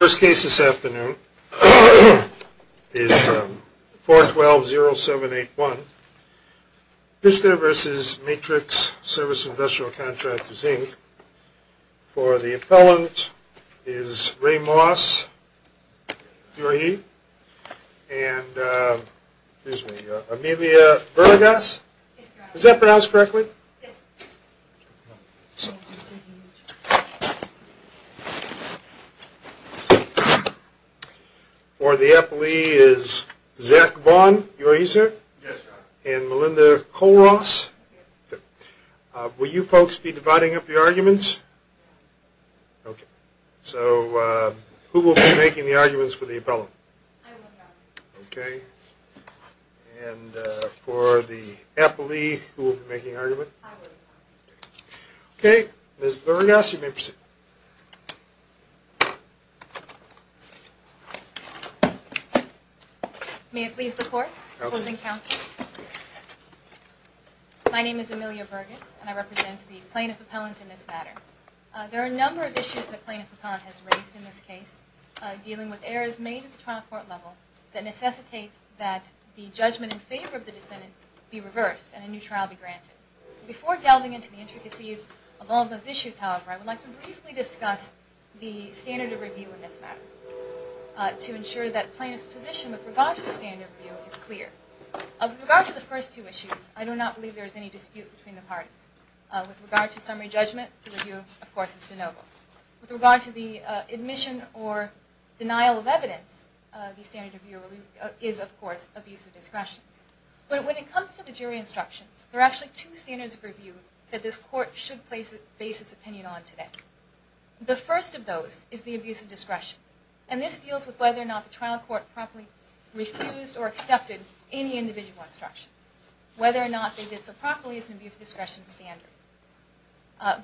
First case this afternoon is 4-12-0-7-8-1. Pister versus Matrix Service Industrial Contractors, Inc. For the appellant is Ray Moss, do I hear you? And, excuse me, Amelia Burgas? Is that pronounced correctly? For the appellee is Zach Vaughn, do I hear you sir? And Melinda Colross? Will you folks be dividing up your arguments? So, who will be making the arguments for the appellant? I will not. Okay. And for the appellee, who will be making the argument? I will not. Okay, Ms. Burgas, you may proceed. May it please the court, opposing counsel. My name is Amelia Burgas, and I represent the plaintiff appellant in this matter. There are a number of issues the plaintiff appellant has raised in this case, dealing with errors made at the trial court level that necessitate that the judgment in favor of the defendant be reversed and a new trial be granted. Before delving into the intricacies of all those issues, however, I would like to briefly discuss the standard of review in this matter to ensure that the plaintiff's position with regard to the standard of review is clear. With regard to the first two issues, I do not believe there is any dispute between the parties. With regard to summary judgment, the review, of course, is de novo. With regard to the admission or denial of evidence, the standard of review is, of course, abuse of discretion. But when it comes to the jury instructions, there are actually two standards of review that this court should base its opinion on today. The first of those is the abuse of discretion, and this deals with whether or not the trial court properly refused or accepted any individual instruction. Whether or not they did so properly is an abuse of discretion standard.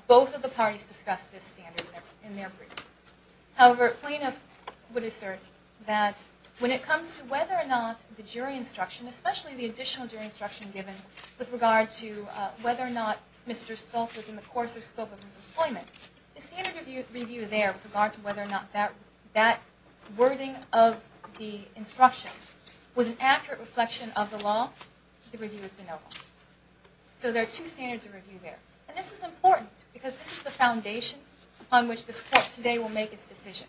Both of the parties discussed this standard in their brief. However, a plaintiff would assert that when it comes to whether or not the jury instruction, especially the additional jury instruction given with regard to whether or not Mr. Stoltz was in the course or scope of his employment, the standard of review there with regard to whether or not that wording of the instruction was an accurate reflection of the law, the review is de novo. So there are two standards of review there. And this is important because this is the foundation upon which this court today will make its decision.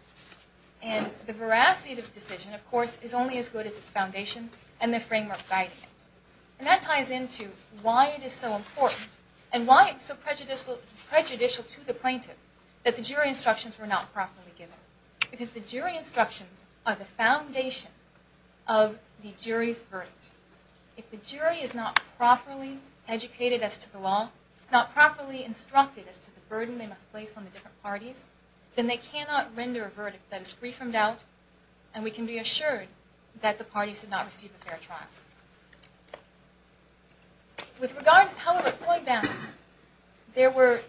And the veracity of the decision, of course, is only as good as its foundation and the framework guiding it. And that ties into why it is so important and why it's so prejudicial to the plaintiff that the jury instructions were not properly given. Because the jury instructions are the foundation of the jury's verdict. If the jury is not properly educated as to the law, not properly instructed as to the burden they must place on the different parties, then they cannot render a verdict that is free from doubt. And we can be assured that the parties did not receive a fair trial. With regard to power of employment boundaries, there were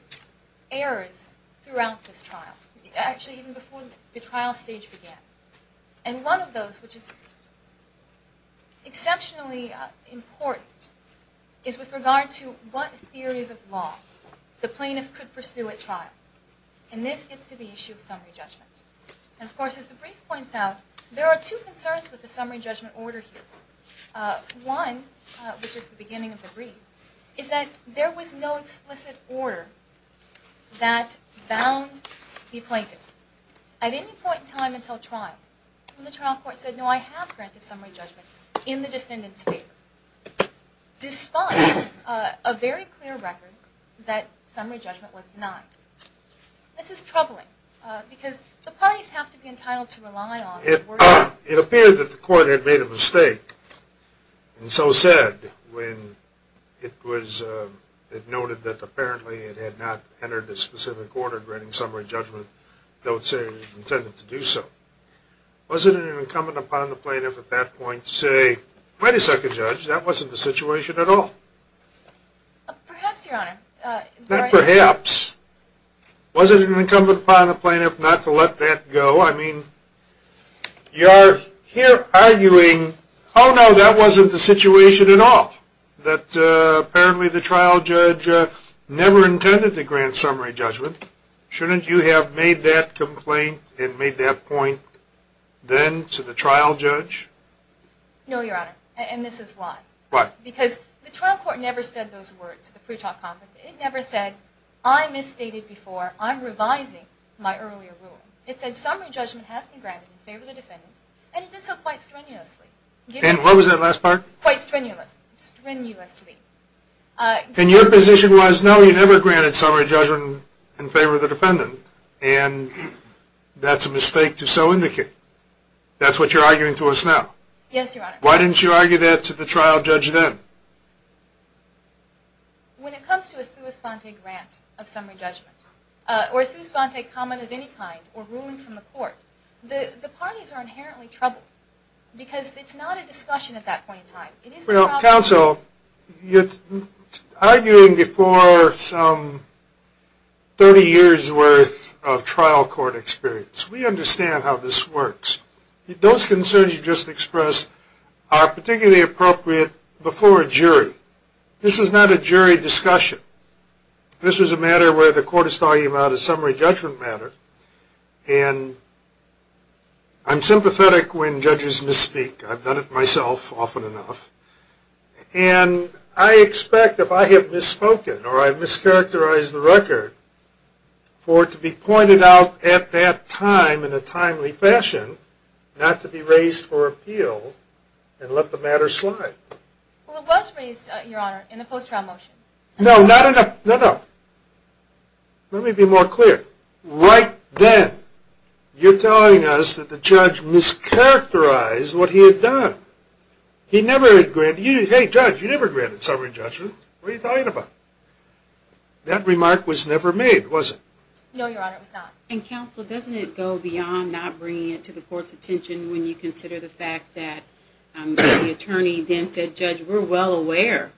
errors throughout this trial. Actually, even before the trial stage began. And one of those, which is exceptionally important, is with regard to what theories of law the plaintiff could pursue at trial. And this gets to the issue of summary judgment. And of course, as the brief points out, there are two concerns with the summary judgment order here. One, which is the beginning of the brief, is that there was no explicit order that bound the plaintiff. At any point in time until trial, when the trial court said, no, I have granted summary judgment in the defendant's favor, despite a very clear record that summary judgment was denied. This is troubling, because the parties have to be entitled to rely on. It appeared that the court had made a mistake, and so said, when it noted that apparently it had not entered a specific order granting summary judgment that would say it was intended to do so. Was it an incumbent upon the plaintiff at that point to say, wait a second, judge, that wasn't the situation at all? Perhaps, your honor. Not perhaps. Was it an incumbent upon the plaintiff not to let that go? I mean, you're here arguing, oh no, that wasn't the situation at all. That apparently the trial judge never intended to grant summary judgment. Shouldn't you have made that complaint and made that point then to the trial judge? No, your honor, and this is why. Why? Because the trial court never said those words at the pretrial conference. It never said, I misstated before, I'm revising my earlier rule. It said summary judgment has been granted in favor of the defendant, and it did so quite strenuously. And what was that last part? Quite strenuously. Strenuously. Then your position was, no, you never granted summary judgment in favor of the defendant, and that's a mistake to so indicate. That's what you're arguing to us now. Yes, your honor. Why didn't you argue that to the trial judge then? When it comes to a sua sponte grant of summary judgment, or a sua sponte comment of any kind, or ruling from the court, Because it's not a discussion at that point in time. Well, counsel, you're arguing before some 30 years worth of trial court experience. We understand how this works. Those concerns you just expressed are particularly appropriate before a jury. This is not a jury discussion. This is a matter where the court is talking about a summary judgment matter, and I'm sympathetic when judges misspeak. I've done it myself often enough. And I expect if I have misspoken, or I've mischaracterized the record, for it to be pointed out at that time in a timely fashion, not to be raised for appeal and let the matter slide. Well, it was raised, your honor, in the post-trial motion. No, not in the, no, no. Let me be more clear. Right then, you're telling us that the judge mischaracterized what he had done. He never had granted, hey, judge, you never granted summary judgment. What are you talking about? That remark was never made, was it? No, your honor, it was not. And, counsel, doesn't it go beyond not bringing it to the court's attention when you consider the fact that the attorney then said, Judge, we're well aware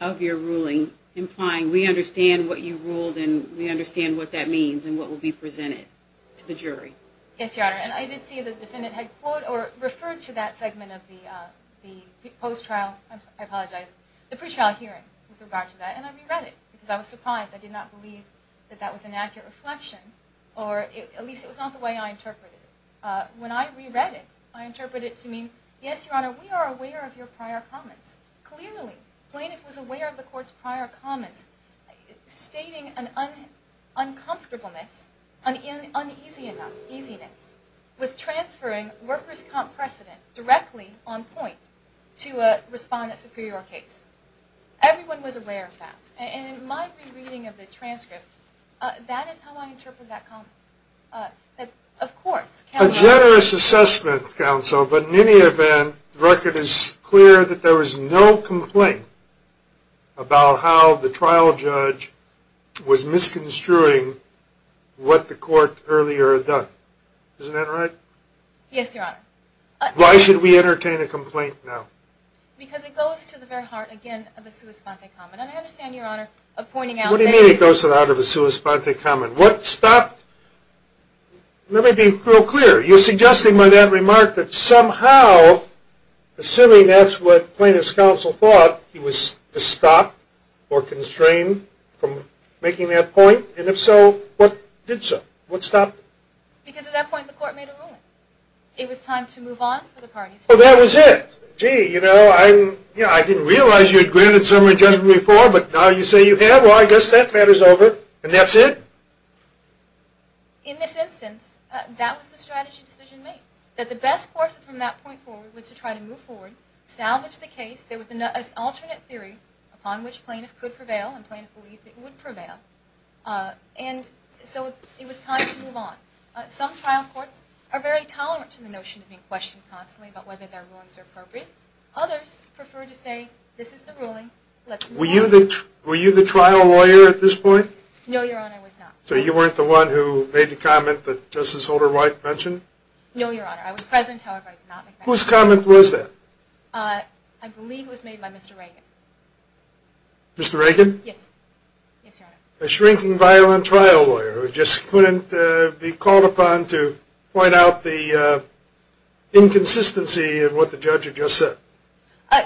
of your ruling, implying we understand what you ruled and we understand what that means and what will be presented to the jury. Yes, your honor. And I did see the defendant had referred to that segment of the post-trial, I apologize, the pre-trial hearing with regard to that, and I reread it because I was surprised. I did not believe that that was an accurate reflection, or at least it was not the way I interpreted it. When I reread it, I interpreted it to mean, Yes, your honor, we are aware of your prior comments. Clearly, plaintiff was aware of the court's prior comments, stating an uncomfortableness, an uneasiness, with transferring workers' comp precedent directly on point to a respondent superior case. Everyone was aware of that. And in my rereading of the transcript, that is how I interpreted that comment. Of course, counsel. A generous assessment, counsel, but in any event, the record is clear that there was no complaint about how the trial judge was misconstruing what the court earlier had done. Isn't that right? Yes, your honor. Why should we entertain a complaint now? Because it goes to the very heart, again, of a sua sponte comment. And I understand, your honor, of pointing out. What do you mean it goes to the heart of a sua sponte comment? What stopped? Let me be real clear. You're suggesting by that remark that somehow, assuming that's what plaintiff's counsel thought, he was stopped or constrained from making that point? And if so, what did so? What stopped? Because at that point, the court made a ruling. It was time to move on for the parties. Well, that was it. Gee, you know, I didn't realize you had granted summary judgment before, but now you say you have. Well, I guess that matter's over. And that's it? In this instance, that was the strategy decision made. That the best course from that point forward was to try to move forward, salvage the case. There was an alternate theory upon which plaintiff could prevail and plaintiff believed it would prevail. And so it was time to move on. Some trial courts are very tolerant to the notion of being questioned constantly about whether their rulings are appropriate. Others prefer to say, this is the ruling, let's move on. Were you the trial lawyer at this point? No, Your Honor, I was not. So you weren't the one who made the comment that Justice Holder White mentioned? No, Your Honor. I was present, however I did not make that comment. Whose comment was that? I believe it was made by Mr. Reagan. Mr. Reagan? Yes. Yes, Your Honor. A shrinking violent trial lawyer who just couldn't be called upon to point out the inconsistency in what the judge had just said.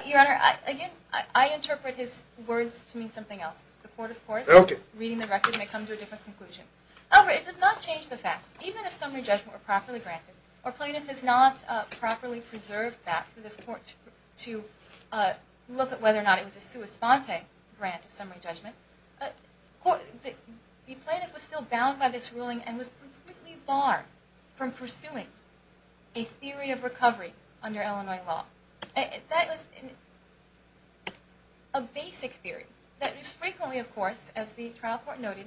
Your Honor, again, I interpret his words to mean something else. The court, of course, reading the record may come to a different conclusion. However, it does not change the fact, even if summary judgment were properly granted, or plaintiff has not properly preserved that for this court to look at whether or not it was a sua sponte grant of summary judgment, the plaintiff was still bound by this ruling and was completely barred from pursuing a theory of recovery under Illinois law. That was a basic theory that was frequently, of course, as the trial court noted,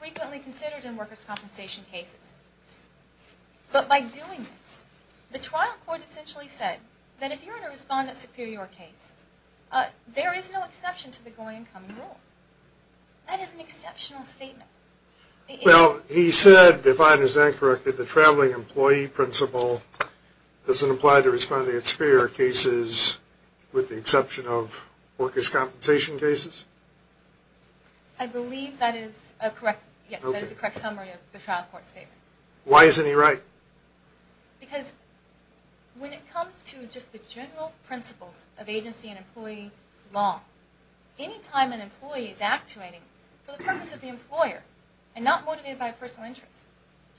frequently considered in workers' compensation cases. But by doing this, the trial court essentially said that if you're in a respondent superior case, there is no exception to the going and coming rule. That is an exceptional statement. Well, he said, if I understand correctly, the traveling employee principle doesn't apply to respondent superior cases with the exception of workers' compensation cases? I believe that is a correct summary of the trial court statement. Why isn't he right? Because when it comes to just the general principles of agency and employee law, any time an employee is actuating for the purpose of the employer and not motivated by a personal interest,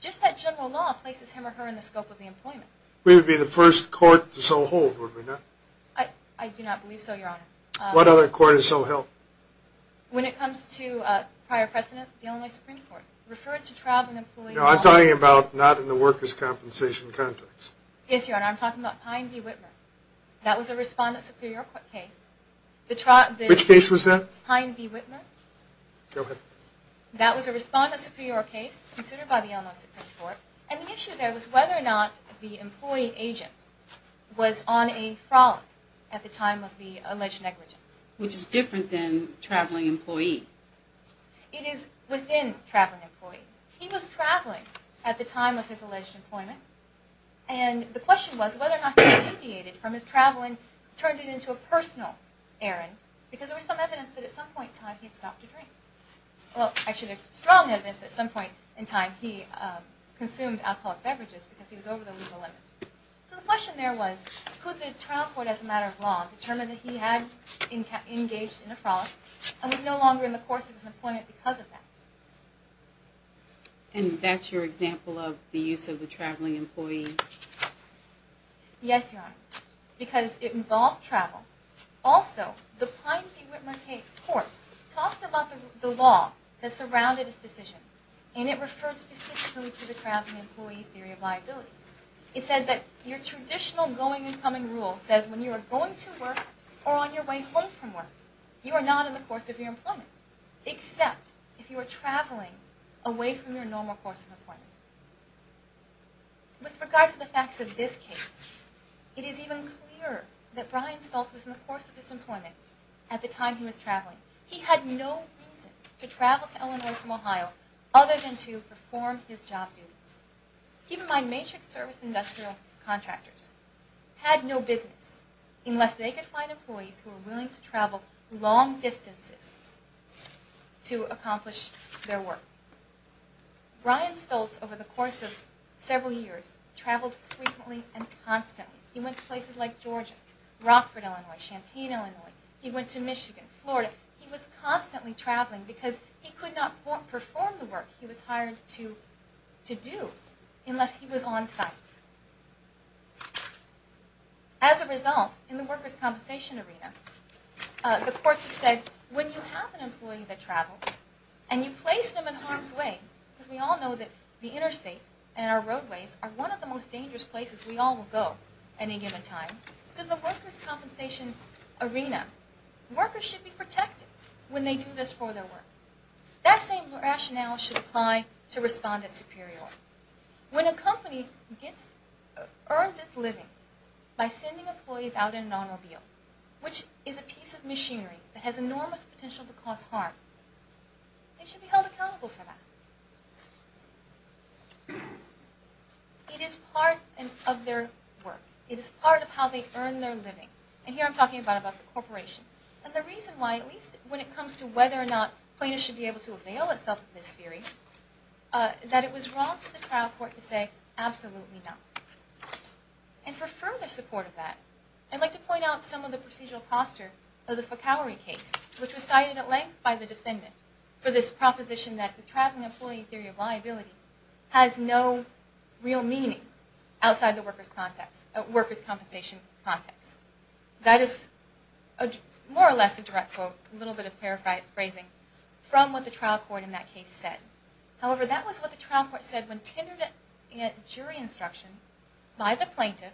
just that general law places him or her in the scope of the employment. We would be the first court to so hold, would we not? I do not believe so, Your Honor. What other court is so held? When it comes to prior precedent, the Illinois Supreme Court. Referring to traveling employees. No, I'm talking about not in the workers' compensation context. Yes, Your Honor. I'm talking about Pine v. Whitmer. That was a respondent superior case. Which case was that? Pine v. Whitmer. Go ahead. That was a respondent superior case considered by the Illinois Supreme Court, and the issue there was whether or not the employee agent was on a frolic at the time of the alleged negligence. Which is different than traveling employee. It is within traveling employee. He was traveling at the time of his alleged employment, and the question was whether or not he deviated from his traveling, turned it into a personal errand, because there was some evidence that at some point in time he had stopped a drink. Well, actually there's strong evidence that at some point in time he consumed alcoholic beverages because he was over the legal limit. So the question there was, could the trial court as a matter of law determine that he had engaged in a frolic and was no longer in the course of his employment because of that? And that's your example of the use of the traveling employee? Yes, Your Honor. Because it involved travel. Also, the Pine v. Whitmer Court talked about the law that surrounded his decision, and it referred specifically to the traveling employee theory of liability. It said that your traditional going and coming rule says when you are going to work or on your way home from work, you are not in the course of your employment, except if you are traveling away from your normal course of employment. With regard to the facts of this case, it is even clearer that Brian Stultz was in the course of his employment at the time he was traveling. He had no reason to travel to Illinois from Ohio other than to perform his job duties. Keep in mind, Matrix Service Industrial contractors had no business unless they could find employees who were willing to travel long distances to accomplish their work. Brian Stultz, over the course of several years, traveled frequently and constantly. He went to places like Georgia, Rockford, Illinois, Champaign, Illinois. He went to Michigan, Florida. He was constantly traveling because he could not perform the work he was hired to do unless he was on site. As a result, in the workers' compensation arena, the courts have said when you have an employee that travels and you place them in harm's way, because we all know that the interstate and our roadways are one of the most dangerous places we all will go at any given time, the workers' compensation arena, workers should be protected when they do this for their work. That same rationale should apply to respondents superior. When a company earns its living by sending employees out in an automobile, which is a piece of machinery that has enormous potential to cause harm, they should be held accountable for that. It is part of their work. It is part of how they earn their living. And here I'm talking about the corporation. And the reason why, at least when it comes to whether or not plaintiffs should be able to avail themselves of this theory, that it was wrong for the trial court to say absolutely not. And for further support of that, I'd like to point out some of the procedural posture of the Foucault case, which was cited at length by the defendant for this proposition that the traveling employee theory of liability has no real meaning outside the workers' compensation context. That is more or less a direct quote, a little bit of paraphrasing from what the trial court in that case said. However, that was what the trial court said when tendered a jury instruction by the plaintiff,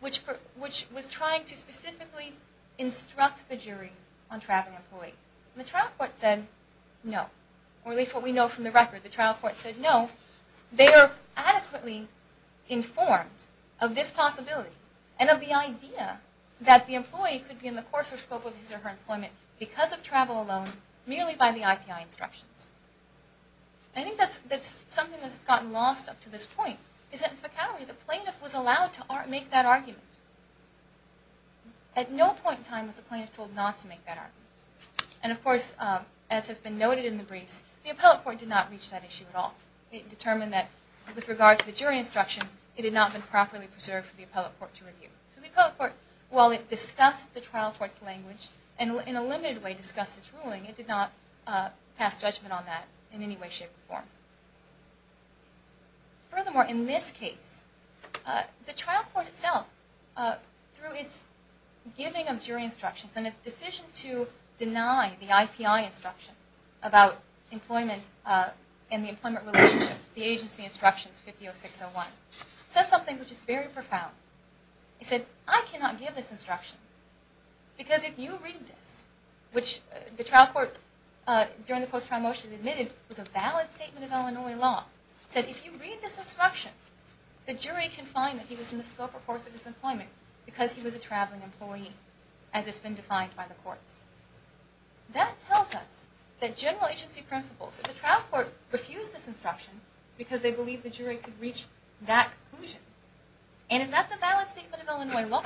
which was trying to specifically instruct the jury on traveling employees. And the trial court said no. Or at least what we know from the record, the trial court said no. They are adequately informed of this possibility and of the idea that the employee could be in the course or scope of his or her employment because of travel alone, merely by the IPI instructions. I think that's something that's gotten lost up to this point, is that in Foucault, the plaintiff was allowed to make that argument. At no point in time was the plaintiff told not to make that argument. And of course, as has been noted in the briefs, the appellate court did not reach that issue at all. It determined that with regard to the jury instruction, it had not been properly preserved for the appellate court to review. So the appellate court, while it discussed the trial court's language and in a limited way discussed its ruling, it did not pass judgment on that in any way, shape, or form. Furthermore, in this case, the trial court itself, through its giving of jury instructions and its decision to deny the IPI instruction about employment and the employment relationship, the agency instructions 50-06-01, says something which is very profound. It said, I cannot give this instruction because if you read this, which the trial court during the post-trial motion admitted was a valid statement of Illinois law, said if you read this instruction, the jury can find that he was in the scope or course of his employment because he was a traveling employee, as has been defined by the courts. That tells us that general agency principles, that the trial court refused this instruction because they believed the jury could reach that conclusion. And if that's a valid statement of Illinois law,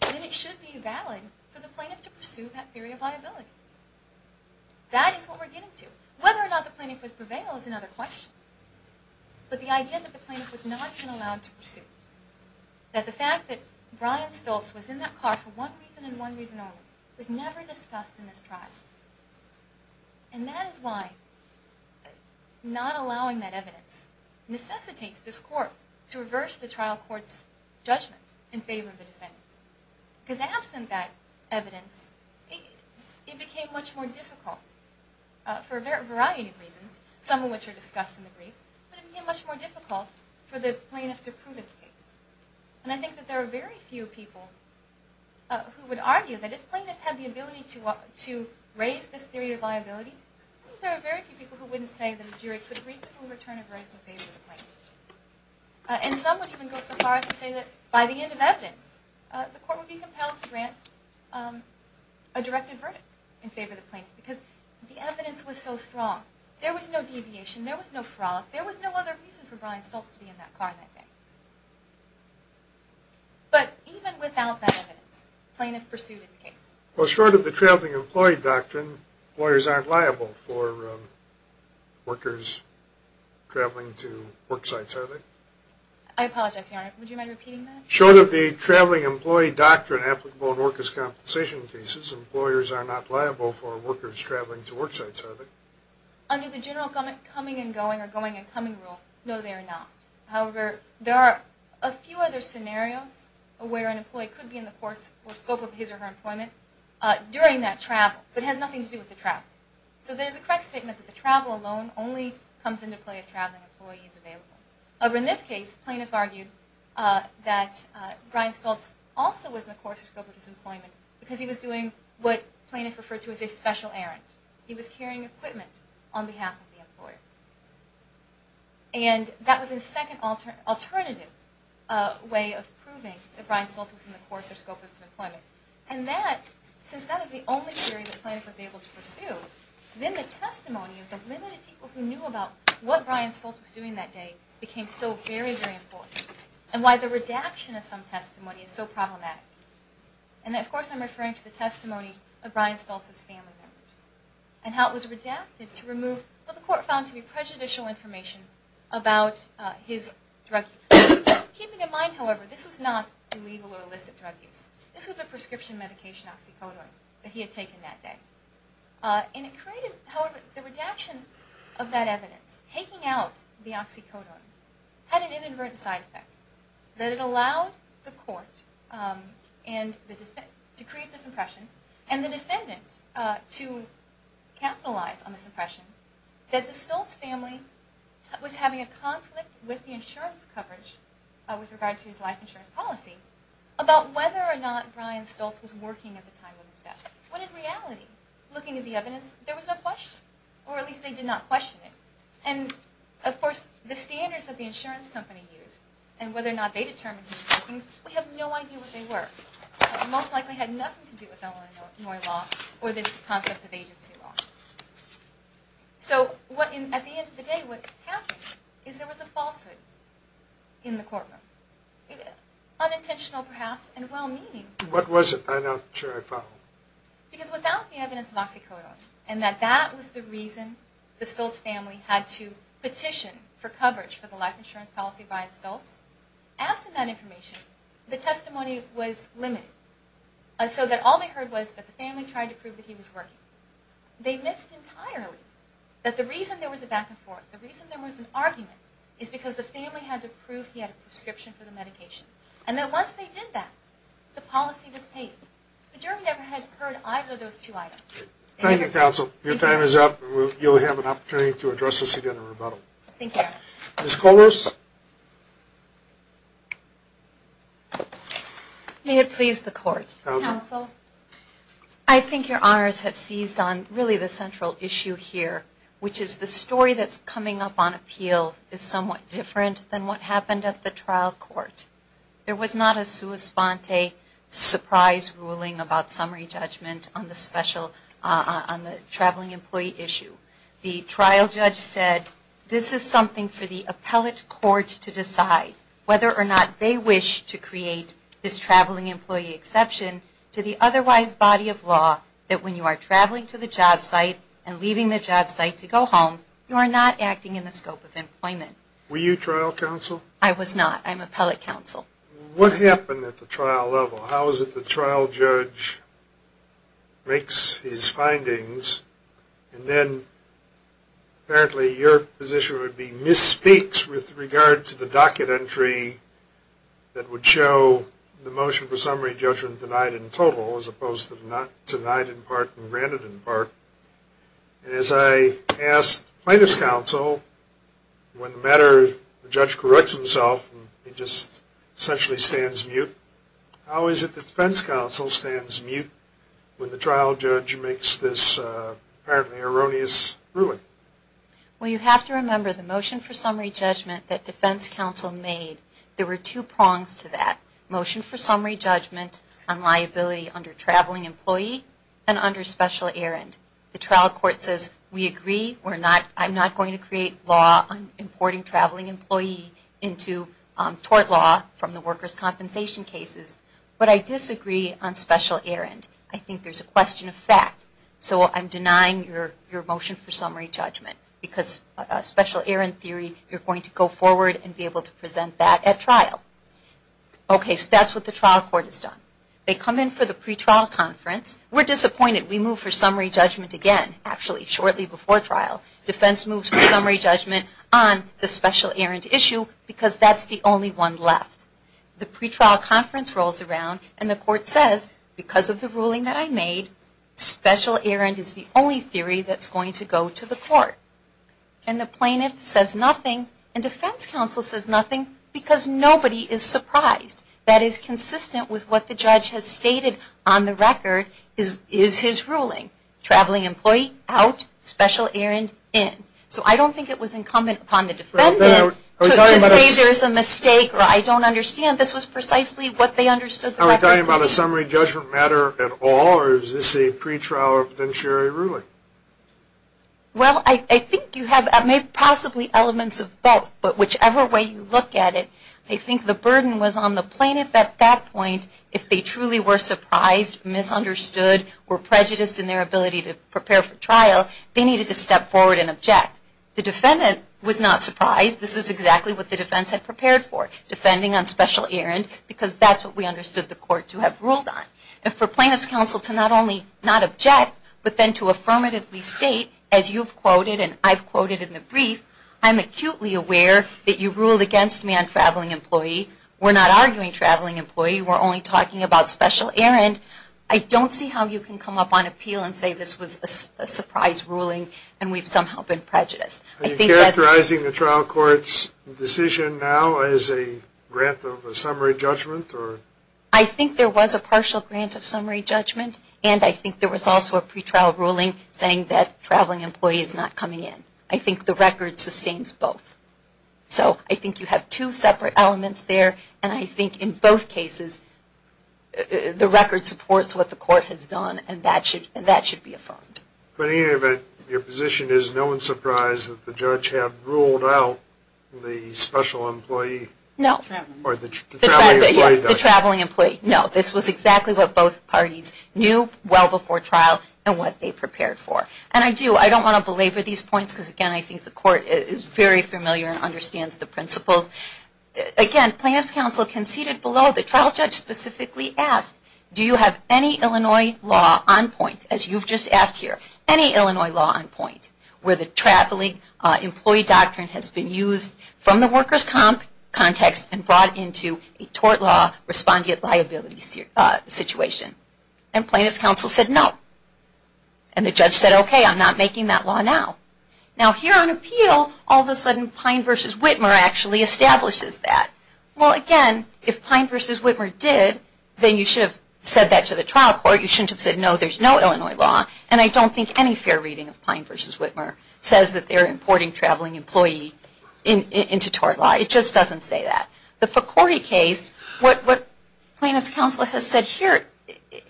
then it should be valid for the plaintiff to pursue that theory of liability. That is what we're getting to. Whether or not the plaintiff would prevail is another question. But the idea that the plaintiff was not even allowed to pursue, that the fact that Brian Stoltz was in that car for one reason and one reason only, was never discussed in this trial. And that is why not allowing that evidence necessitates this court to reverse the trial court's judgment in favor of the defendant. Because absent that evidence, it became much more difficult for a variety of reasons, some of which are discussed in the briefs, but it became much more difficult for the plaintiff to prove its case. And I think that there are very few people who would argue that if the plaintiff had the ability to raise this theory of liability, I think there are very few people who wouldn't say that a jury could reasonably return a verdict in favor of the plaintiff. And some would even go so far as to say that by the end of evidence, the court would be compelled to grant a directed verdict in favor of the plaintiff. Because the evidence was so strong. There was no deviation. There was no fraud. There was no other reason for Brian Stoltz to be in that car that day. But even without that evidence, the plaintiff pursued its case. Well, short of the traveling employee doctrine, lawyers aren't liable for workers traveling to work sites, are they? I apologize, Your Honor. Would you mind repeating that? Short of the traveling employee doctrine applicable in workers' compensation cases, employers are not liable for workers traveling to work sites, are they? Under the general coming and going or going and coming rule, no, they are not. However, there are a few other scenarios where an employee could be in the course or scope of his or her employment during that travel, but it has nothing to do with the travel. So there's a correct statement that the travel alone only comes into play if a traveling employee is available. However, in this case, plaintiff argued that Brian Stoltz also was in the course or scope of his employment because he was doing what plaintiff referred to as a special errand. He was carrying equipment on behalf of the employer. And that was a second alternative way of proving that Brian Stoltz was in the course or scope of his employment. And since that was the only theory that plaintiff was able to pursue, then the testimony of the limited people who knew about what Brian Stoltz was doing that day became so very, very important and why the redaction of some testimony is so problematic. And, of course, I'm referring to the testimony of Brian Stoltz's family members and how it was redacted to remove what the court found to be prejudicial information about his drug use. Keeping in mind, however, this was not illegal or illicit drug use. This was a prescription medication, oxycodone, that he had taken that day. And it created, however, the redaction of that evidence. Taking out the oxycodone had an inadvertent side effect, that it allowed the court to create this impression and the defendant to capitalize on this impression that the Stoltz family was having a conflict with the insurance coverage with regard to his life insurance policy about whether or not Brian Stoltz was working at the time of his death. When in reality, looking at the evidence, there was no question, or at least they did not question it. And, of course, the standards that the insurance company used and whether or not they determined he was working, we have no idea what they were. Most likely had nothing to do with Illinois law or the concept of agency law. So, at the end of the day, what happened is there was a falsehood in the courtroom. Unintentional, perhaps, and well-meaning. What was it? I'm not sure I follow. Because without the evidence of oxycodone, and that that was the reason the Stoltz family had to petition for coverage for the life insurance policy of Brian Stoltz, absent that information, the testimony was limited. So that all they heard was that the family tried to prove that he was working. They missed entirely that the reason there was a back and forth, the reason there was an argument, is because the family had to prove he had a prescription for the medication. And that once they did that, the policy was paid. The jury never had heard either of those two items. Thank you, counsel. Your time is up. You'll have an opportunity to address this again in rebuttal. Thank you. Ms. Kollross. May it please the court. Counsel. I think your honors have seized on really the central issue here, which is the story that's coming up on appeal is somewhat different than what happened at the trial court. There was not a sua sponte surprise ruling about summary judgment on the traveling employee issue. The trial judge said this is something for the appellate court to decide, whether or not they wish to create this traveling employee exception to the otherwise body of law that when you are traveling to the job site and leaving the job site to go home, you are not acting in the scope of employment. Were you trial counsel? I was not. I'm appellate counsel. What happened at the trial level? How is it the trial judge makes his findings and then apparently your position would be misspeaks with regard to the docket entry that would show the motion for summary judgment denied in total, as opposed to denied in part and granted in part. As I asked plaintiff's counsel, when the matter, the judge corrects himself and just essentially stands mute, how is it the defense counsel stands mute when the trial judge makes this apparently erroneous ruling? Well, you have to remember the motion for summary judgment that defense counsel made, there were two prongs to that. Motion for summary judgment on liability under traveling employee and under special errand. The trial court says, we agree, I'm not going to create law on importing traveling employee into tort law from the workers' compensation cases, but I disagree on special errand. I think there's a question of fact. So I'm denying your motion for summary judgment because special errand theory, you're going to go forward and be able to present that at trial. Okay, so that's what the trial court has done. They come in for the pretrial conference. We're disappointed. We move for summary judgment again, actually shortly before trial. Defense moves for summary judgment on the special errand issue because that's the only one left. The pretrial conference rolls around and the court says, because of the ruling that I made, special errand is the only theory that's going to go to the court. And the plaintiff says nothing and defense counsel says nothing because nobody is surprised. That is consistent with what the judge has stated on the record is his ruling, traveling employee out, special errand in. So I don't think it was incumbent upon the defendant to say there's a mistake or I don't understand. This was precisely what they understood the record to be. Are we talking about a summary judgment matter at all or is this a pretrial evidentiary ruling? Well, I think you have possibly elements of both, but whichever way you look at it, I think the burden was on the plaintiff at that point if they truly were surprised, misunderstood, or prejudiced in their ability to prepare for trial, they needed to step forward and object. The defendant was not surprised. This is exactly what the defense had prepared for, defending on special errand, because that's what we understood the court to have ruled on. And for plaintiff's counsel to not only not object, but then to affirmatively state, as you've quoted and I've quoted in the brief, I'm acutely aware that you ruled against me on traveling employee. We're not arguing traveling employee. We're only talking about special errand. I don't see how you can come up on appeal and say this was a surprise ruling and we've somehow been prejudiced. Are you characterizing the trial court's decision now as a grant of a summary judgment? I think there was a partial grant of summary judgment and I think there was also a pretrial ruling saying that traveling employee is not coming in. I think the record sustains both. So I think you have two separate elements there and I think in both cases the record supports what the court has done and that should be affirmed. But in any event, your position is no one's surprised that the judge had ruled out the special employee? No. Or the traveling employee. Yes, the traveling employee. No, this was exactly what both parties knew well before trial and what they prepared for. And I do, I don't want to belabor these points because, again, I think the court is very familiar and understands the principles. Again, plaintiff's counsel conceded below. The trial judge specifically asked, do you have any Illinois law on point, as you've just asked here, any Illinois law on point where the traveling employee doctrine has been used from the worker's context and brought into a tort law respondent liability situation? And plaintiff's counsel said no. And the judge said, okay, I'm not making that law now. Now here on appeal, all of a sudden, Pine v. Whitmer actually establishes that. Well, again, if Pine v. Whitmer did, then you should have said that to the trial court. You shouldn't have said, no, there's no Illinois law. And I don't think any fair reading of Pine v. Whitmer says that they're importing traveling employee into tort law. It just doesn't say that. The Focori case, what plaintiff's counsel has said here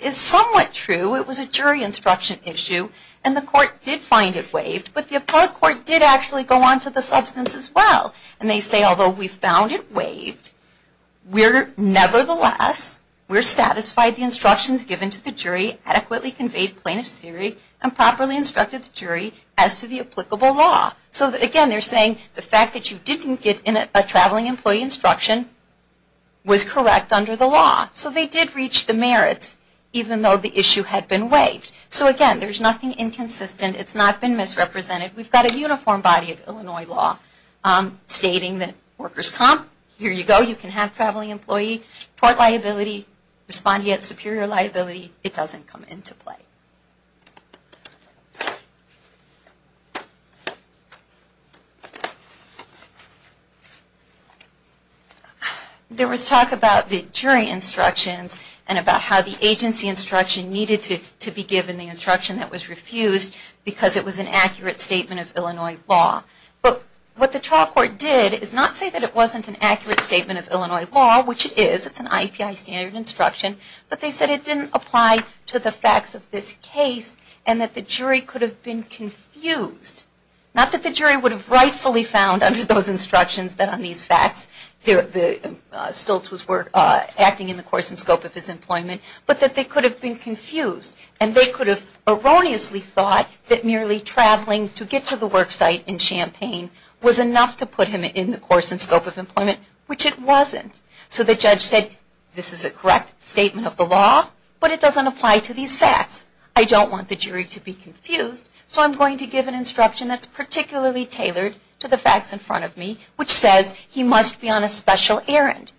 is somewhat true. It was a jury instruction issue. And the court did find it waived. But the appellate court did actually go on to the substance as well. And they say, although we found it waived, nevertheless, we're satisfied the instructions given to the jury adequately conveyed plaintiff's theory and properly instructed the jury as to the applicable law. So, again, they're saying the fact that you didn't get a traveling employee instruction was correct under the law. So they did reach the merits, even though the issue had been waived. So, again, there's nothing inconsistent. It's not been misrepresented. We've got a uniform body of Illinois law stating that workers' comp, here you go, you can have traveling employee, tort liability, respondeat superior liability, it doesn't come into play. There was talk about the jury instructions and about how the agency instruction needed to be given the instruction that was refused because it was an accurate statement of Illinois law. But what the trial court did is not say that it wasn't an accurate statement of Illinois law, which it is. It's an IEPI standard instruction. So, again, it's not been misrepresented. And that the jury could have been confused. Not that the jury would have rightfully found under those instructions that on these facts Stiltz was acting in the course and scope of his employment, but that they could have been confused and they could have erroneously thought that merely traveling to get to the worksite in Champaign was enough to put him in the course and scope of employment, which it wasn't. So the judge said, this is a correct statement of the law, but it doesn't apply to these facts. I don't want the jury to be confused, so I'm going to give an instruction that's particularly tailored to the facts in front of me, which says he must be on a special errand.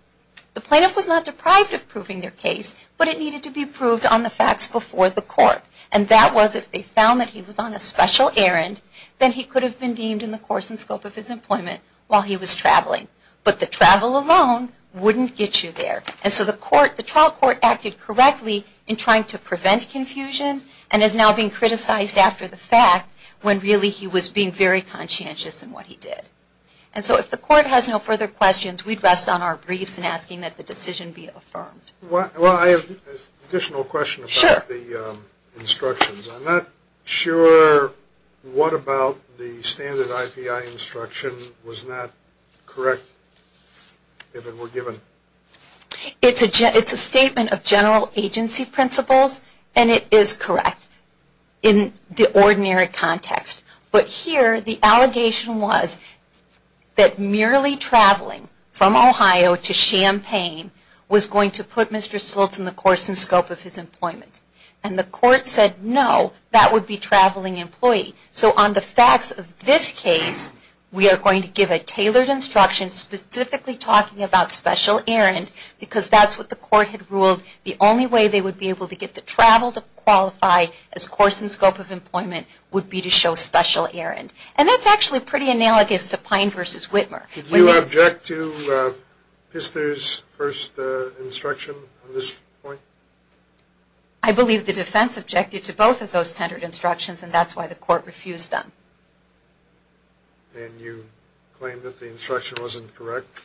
The plaintiff was not deprived of proving their case, but it needed to be proved on the facts before the court. And that was if they found that he was on a special errand, then he could have been deemed in the course and scope of his employment while he was traveling. But the travel alone wouldn't get you there. And so the trial court acted correctly in trying to prevent confusion and is now being criticized after the fact when really he was being very conscientious in what he did. And so if the court has no further questions, we'd rest on our briefs in asking that the decision be affirmed. Well, I have an additional question about the instructions. I'm not sure what about the standard IPI instruction was not correct if it were given. It's a statement of general agency principles, and it is correct in the ordinary context. But here the allegation was that merely traveling from Ohio to Champaign was going to put Mr. Stoltz in the course and scope of his employment. And the court said no, that would be traveling employee. So on the facts of this case, we are going to give a tailored instruction specifically talking about special errand because that's what the court had ruled. The only way they would be able to get the travel to qualify as course and scope of employment would be to show special errand. And that's actually pretty analogous to Pine v. Whitmer. Do you object to Pister's first instruction on this point? I believe the defense objected to both of those standard instructions, and that's why the court refused them. And you claim that the instruction wasn't correct?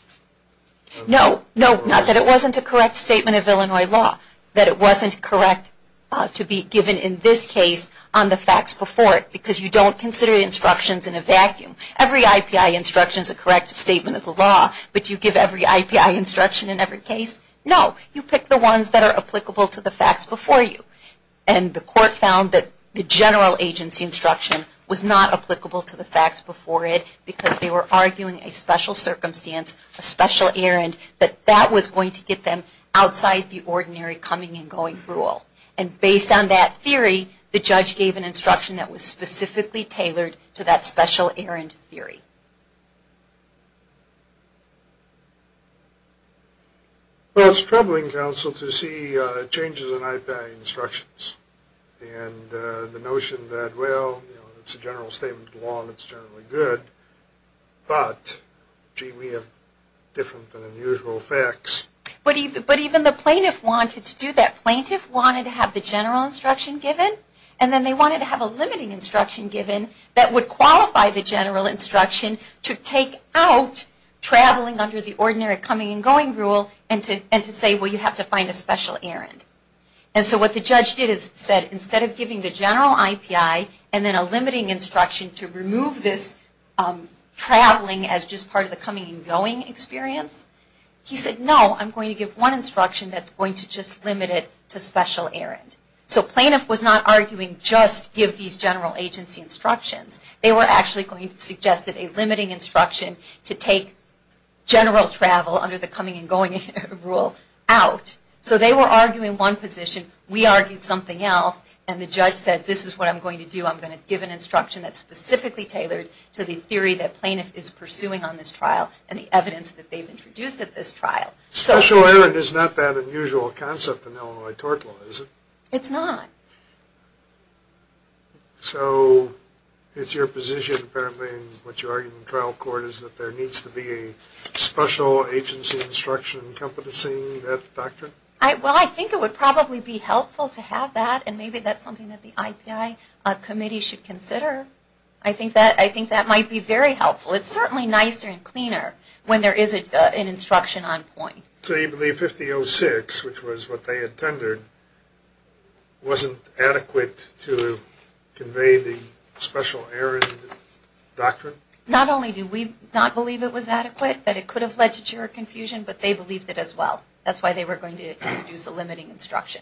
No, not that it wasn't a correct statement of Illinois law, that it wasn't correct to be given in this case on the facts before it because you don't consider instructions in a vacuum. Every IPI instruction is a correct statement of the law, but you give every IPI instruction in every case? No, you pick the ones that are applicable to the facts before you. And the court found that the general agency instruction was not applicable to the facts before it because they were arguing a special circumstance, a special errand, that that was going to get them outside the ordinary coming and going rule. And based on that theory, the judge gave an instruction that was specifically tailored to that special errand theory. Well, it's troubling, counsel, to see changes in IPI instructions and the notion that, well, it's a general statement of the law, and it's generally good, but gee, we have different than unusual facts. But even the plaintiff wanted to do that. Plaintiff wanted to have the general instruction given, and then they wanted to have a limiting instruction given that would qualify the general instruction to take out traveling under the ordinary coming and going rule and to say, well, you have to find a special errand. And so what the judge did is said, instead of giving the general IPI and then a limiting instruction to remove this traveling as just part of the coming and going experience, he said, no, I'm going to give one instruction that's going to just limit it to special errand. So plaintiff was not arguing just give these general agency instructions. They were actually going to suggest that a limiting instruction to take general travel under the coming and going rule out. So they were arguing one position. We argued something else, and the judge said, this is what I'm going to do. I'm going to give an instruction that's specifically tailored to the theory that plaintiff is pursuing on this trial and the evidence that they've introduced at this trial. Special errand is not that unusual a concept in Illinois tort law, is it? It's not. So it's your position, apparently, and what you're arguing in trial court is that there needs to be a special agency instruction encompassing that doctrine? Well, I think it would probably be helpful to have that, and maybe that's something that the IPI committee should consider. I think that might be very helpful. It's certainly nicer and cleaner when there is an instruction on point. So you believe 5006, which was what they had tendered, wasn't adequate to convey the special errand doctrine? Not only do we not believe it was adequate, that it could have led to juror confusion, but they believed it as well. That's why they were going to introduce a limiting instruction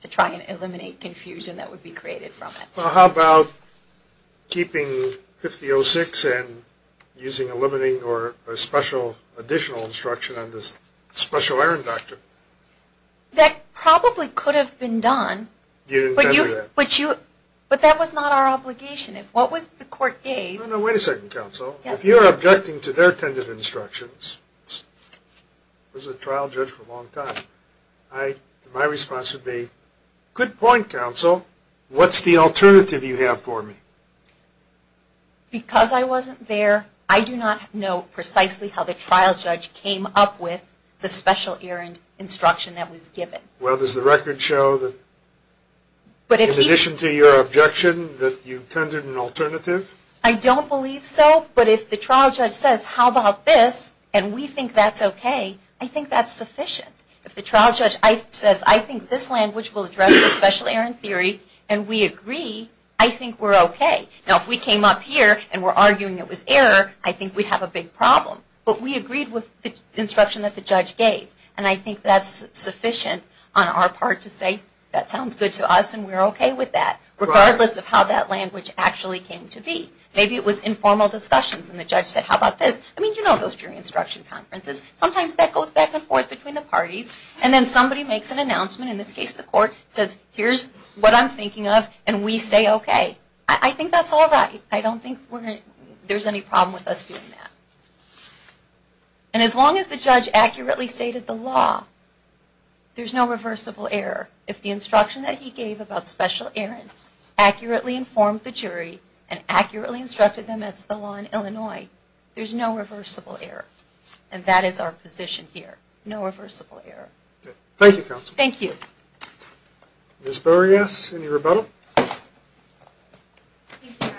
to try and eliminate confusion that would be created from it. Well, how about keeping 5006 and using a limiting or a special additional instruction on this special errand doctrine? That probably could have been done. But that was not our obligation. What was the court gave? Wait a second, counsel. If you're objecting to their tended instructions, as a trial judge for a long time, my response would be, good point, counsel. What's the alternative you have for me? Because I wasn't there, I do not know precisely how the trial judge came up with the special errand instruction that was given. Well, does the record show that, in addition to your objection, that you tended an alternative? I don't believe so, but if the trial judge says, how about this, and we think that's okay, I think that's sufficient. If the trial judge says, I think this language will address the special errand theory, and we agree, I think we're okay. Now, if we came up here and we're arguing it was error, I think we'd have a big problem. But we agreed with the instruction that the judge gave, and I think that's sufficient on our part to say, that sounds good to us and we're okay with that, regardless of how that language actually came to be. Maybe it was informal discussions and the judge said, how about this? I mean, you know those jury instruction conferences. Sometimes that goes back and forth between the parties, and then somebody makes an announcement, in this case the court, says, here's what I'm thinking of, and we say okay. I think that's all right. I don't think there's any problem with us doing that. And as long as the judge accurately stated the law, there's no reversible error. If the instruction that he gave about special errands accurately informed the jury, and accurately instructed them as to the law in Illinois, there's no reversible error. And that is our position here. No reversible error. Thank you, Counselor. Thank you. Ms. Boreas, any rebuttal? Thank you, Your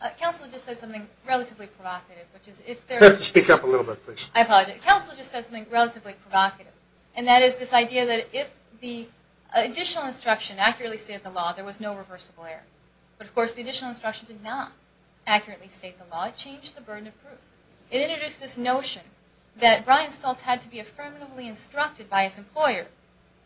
Honor. Counselor just said something relatively provocative, which is if there is... Speak up a little bit, please. I apologize. Counselor just said something relatively provocative, and that is this idea that if the additional instruction accurately stated the law, there was no reversible error. But of course, the additional instructions did not accurately state the law. It changed the burden of proof. It introduced this notion that Brian Stoltz had to be affirmatively instructed by his employer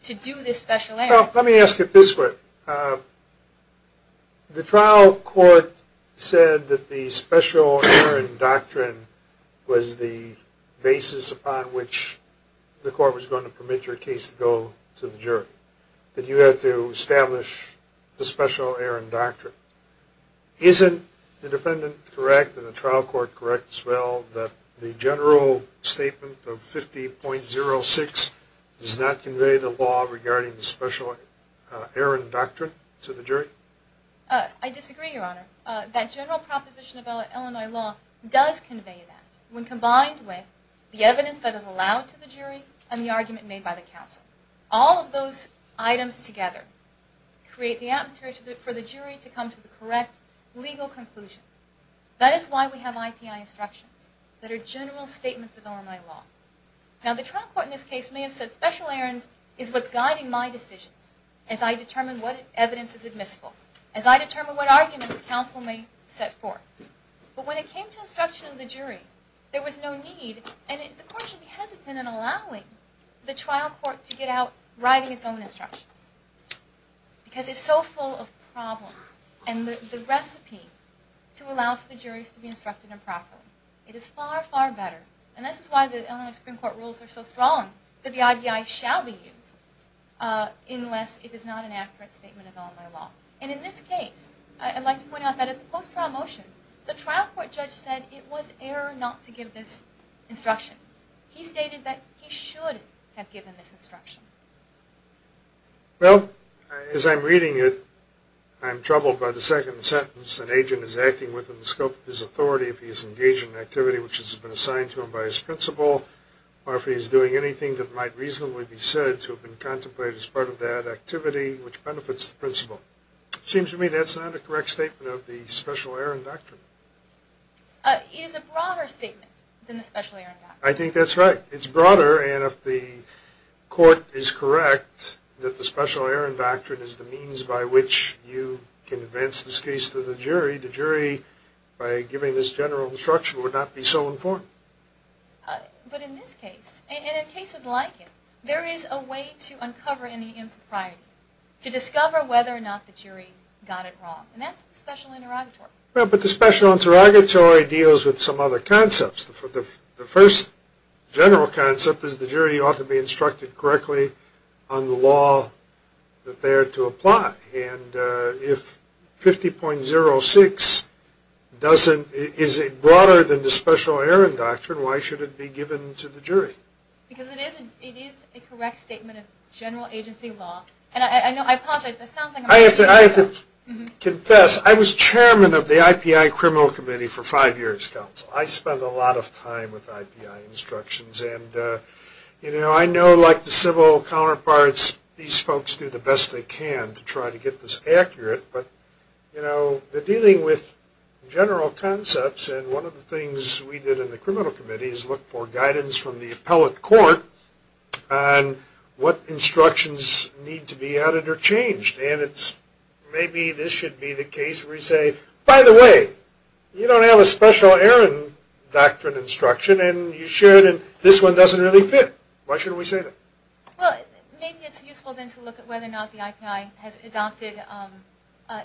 to do this special errand. Well, let me ask it this way. The trial court said that the special errand doctrine was the basis upon which the court was going to permit your case to go to the jury, that you had to establish the special errand doctrine. Isn't the defendant correct and the trial court correct as well that the general statement of 50.06 does not convey the law regarding the special errand doctrine to the jury? I disagree, Your Honor. That general proposition of Illinois law does convey that when combined with the evidence that is allowed to the jury and the argument made by the counsel. All of those items together create the atmosphere for the jury to come to the correct legal conclusion. That is why we have IPI instructions that are general statements of Illinois law. Now, the trial court in this case may have said special errand is what's guiding my decisions as I determine what evidence is admissible, as I determine what arguments the counsel may set forth. But when it came to instruction of the jury, there was no need and the court should be hesitant in allowing the trial court to get out writing its own instructions because it's so full of problems. And the recipe to allow for the juries to be instructed improperly, it is far, far better. And this is why the Illinois Supreme Court rules are so strong, that the IPI shall be used unless it is not an accurate statement of Illinois law. And in this case, I'd like to point out that at the post-trial motion, the trial court judge said it was error not to give this instruction. He stated that he should have given this instruction. Well, as I'm reading it, I'm troubled by the second sentence. An agent is acting within the scope of his authority if he is engaged in an activity which has been assigned to him by his principal, or if he is doing anything that might reasonably be said to have been contemplated as part of that activity, which benefits the principal. It seems to me that's not a correct statement of the special errand doctrine. It is a broader statement than the special errand doctrine. I think that's right. It's broader, and if the court is correct that the special errand doctrine is the means by which you can advance this case to the jury, the jury, by giving this general instruction, would not be so informed. But in this case, and in cases like it, there is a way to uncover any impropriety, to discover whether or not the jury got it wrong. And that's the special interrogatory. But the special interrogatory deals with some other concepts. The first general concept is the jury ought to be instructed correctly on the law that they are to apply. And if 50.06 doesn't, is it broader than the special errand doctrine, why should it be given to the jury? Because it is a correct statement of general agency law. And I know, I apologize, that sounds like a... I have to confess. I was chairman of the IPI Criminal Committee for five years, Counsel. I spent a lot of time with IPI instructions. And, you know, I know like the civil counterparts, these folks do the best they can to try to get this accurate. But, you know, they're dealing with general concepts, and one of the things we did in the Criminal Committee is look for guidance from the appellate court on what instructions need to be added or changed. And it's maybe this should be the case where you say, By the way, you don't have a special errand doctrine instruction, and you should, and this one doesn't really fit. Why should we say that? Well, maybe it's useful then to look at whether or not the IPI has adopted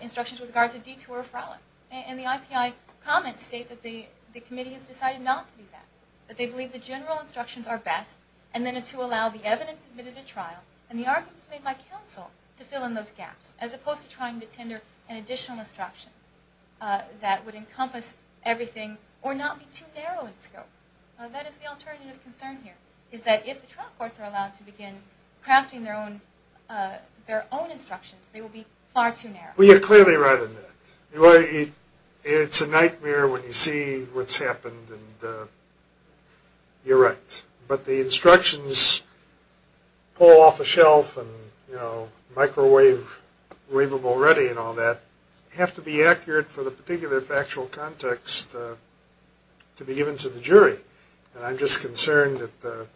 instructions with regard to detour or fraud. And the IPI comments state that the committee has decided not to do that, that they believe the general instructions are best, and then to allow the evidence admitted at trial, and the arguments made by counsel to fill in those gaps, as opposed to trying to tender an additional instruction that would encompass everything or not be too narrow in scope. That is the alternative concern here, is that if the trial courts are allowed to begin crafting their own instructions, they will be far too narrow. Well, you're clearly right on that. It's a nightmare when you see what's happened, and you're right. But the instructions pull off a shelf and microwave them already and all that, have to be accurate for the particular factual context to be given to the jury. And I'm just concerned that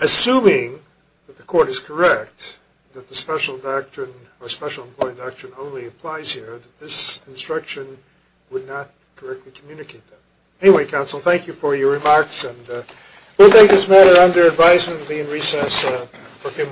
assuming that the court is correct, that the special doctrine or special employee doctrine only applies here, that this instruction would not correctly communicate that. Anyway, counsel, thank you for your remarks. And we'll take this matter under advisement and be in recess for a few moments.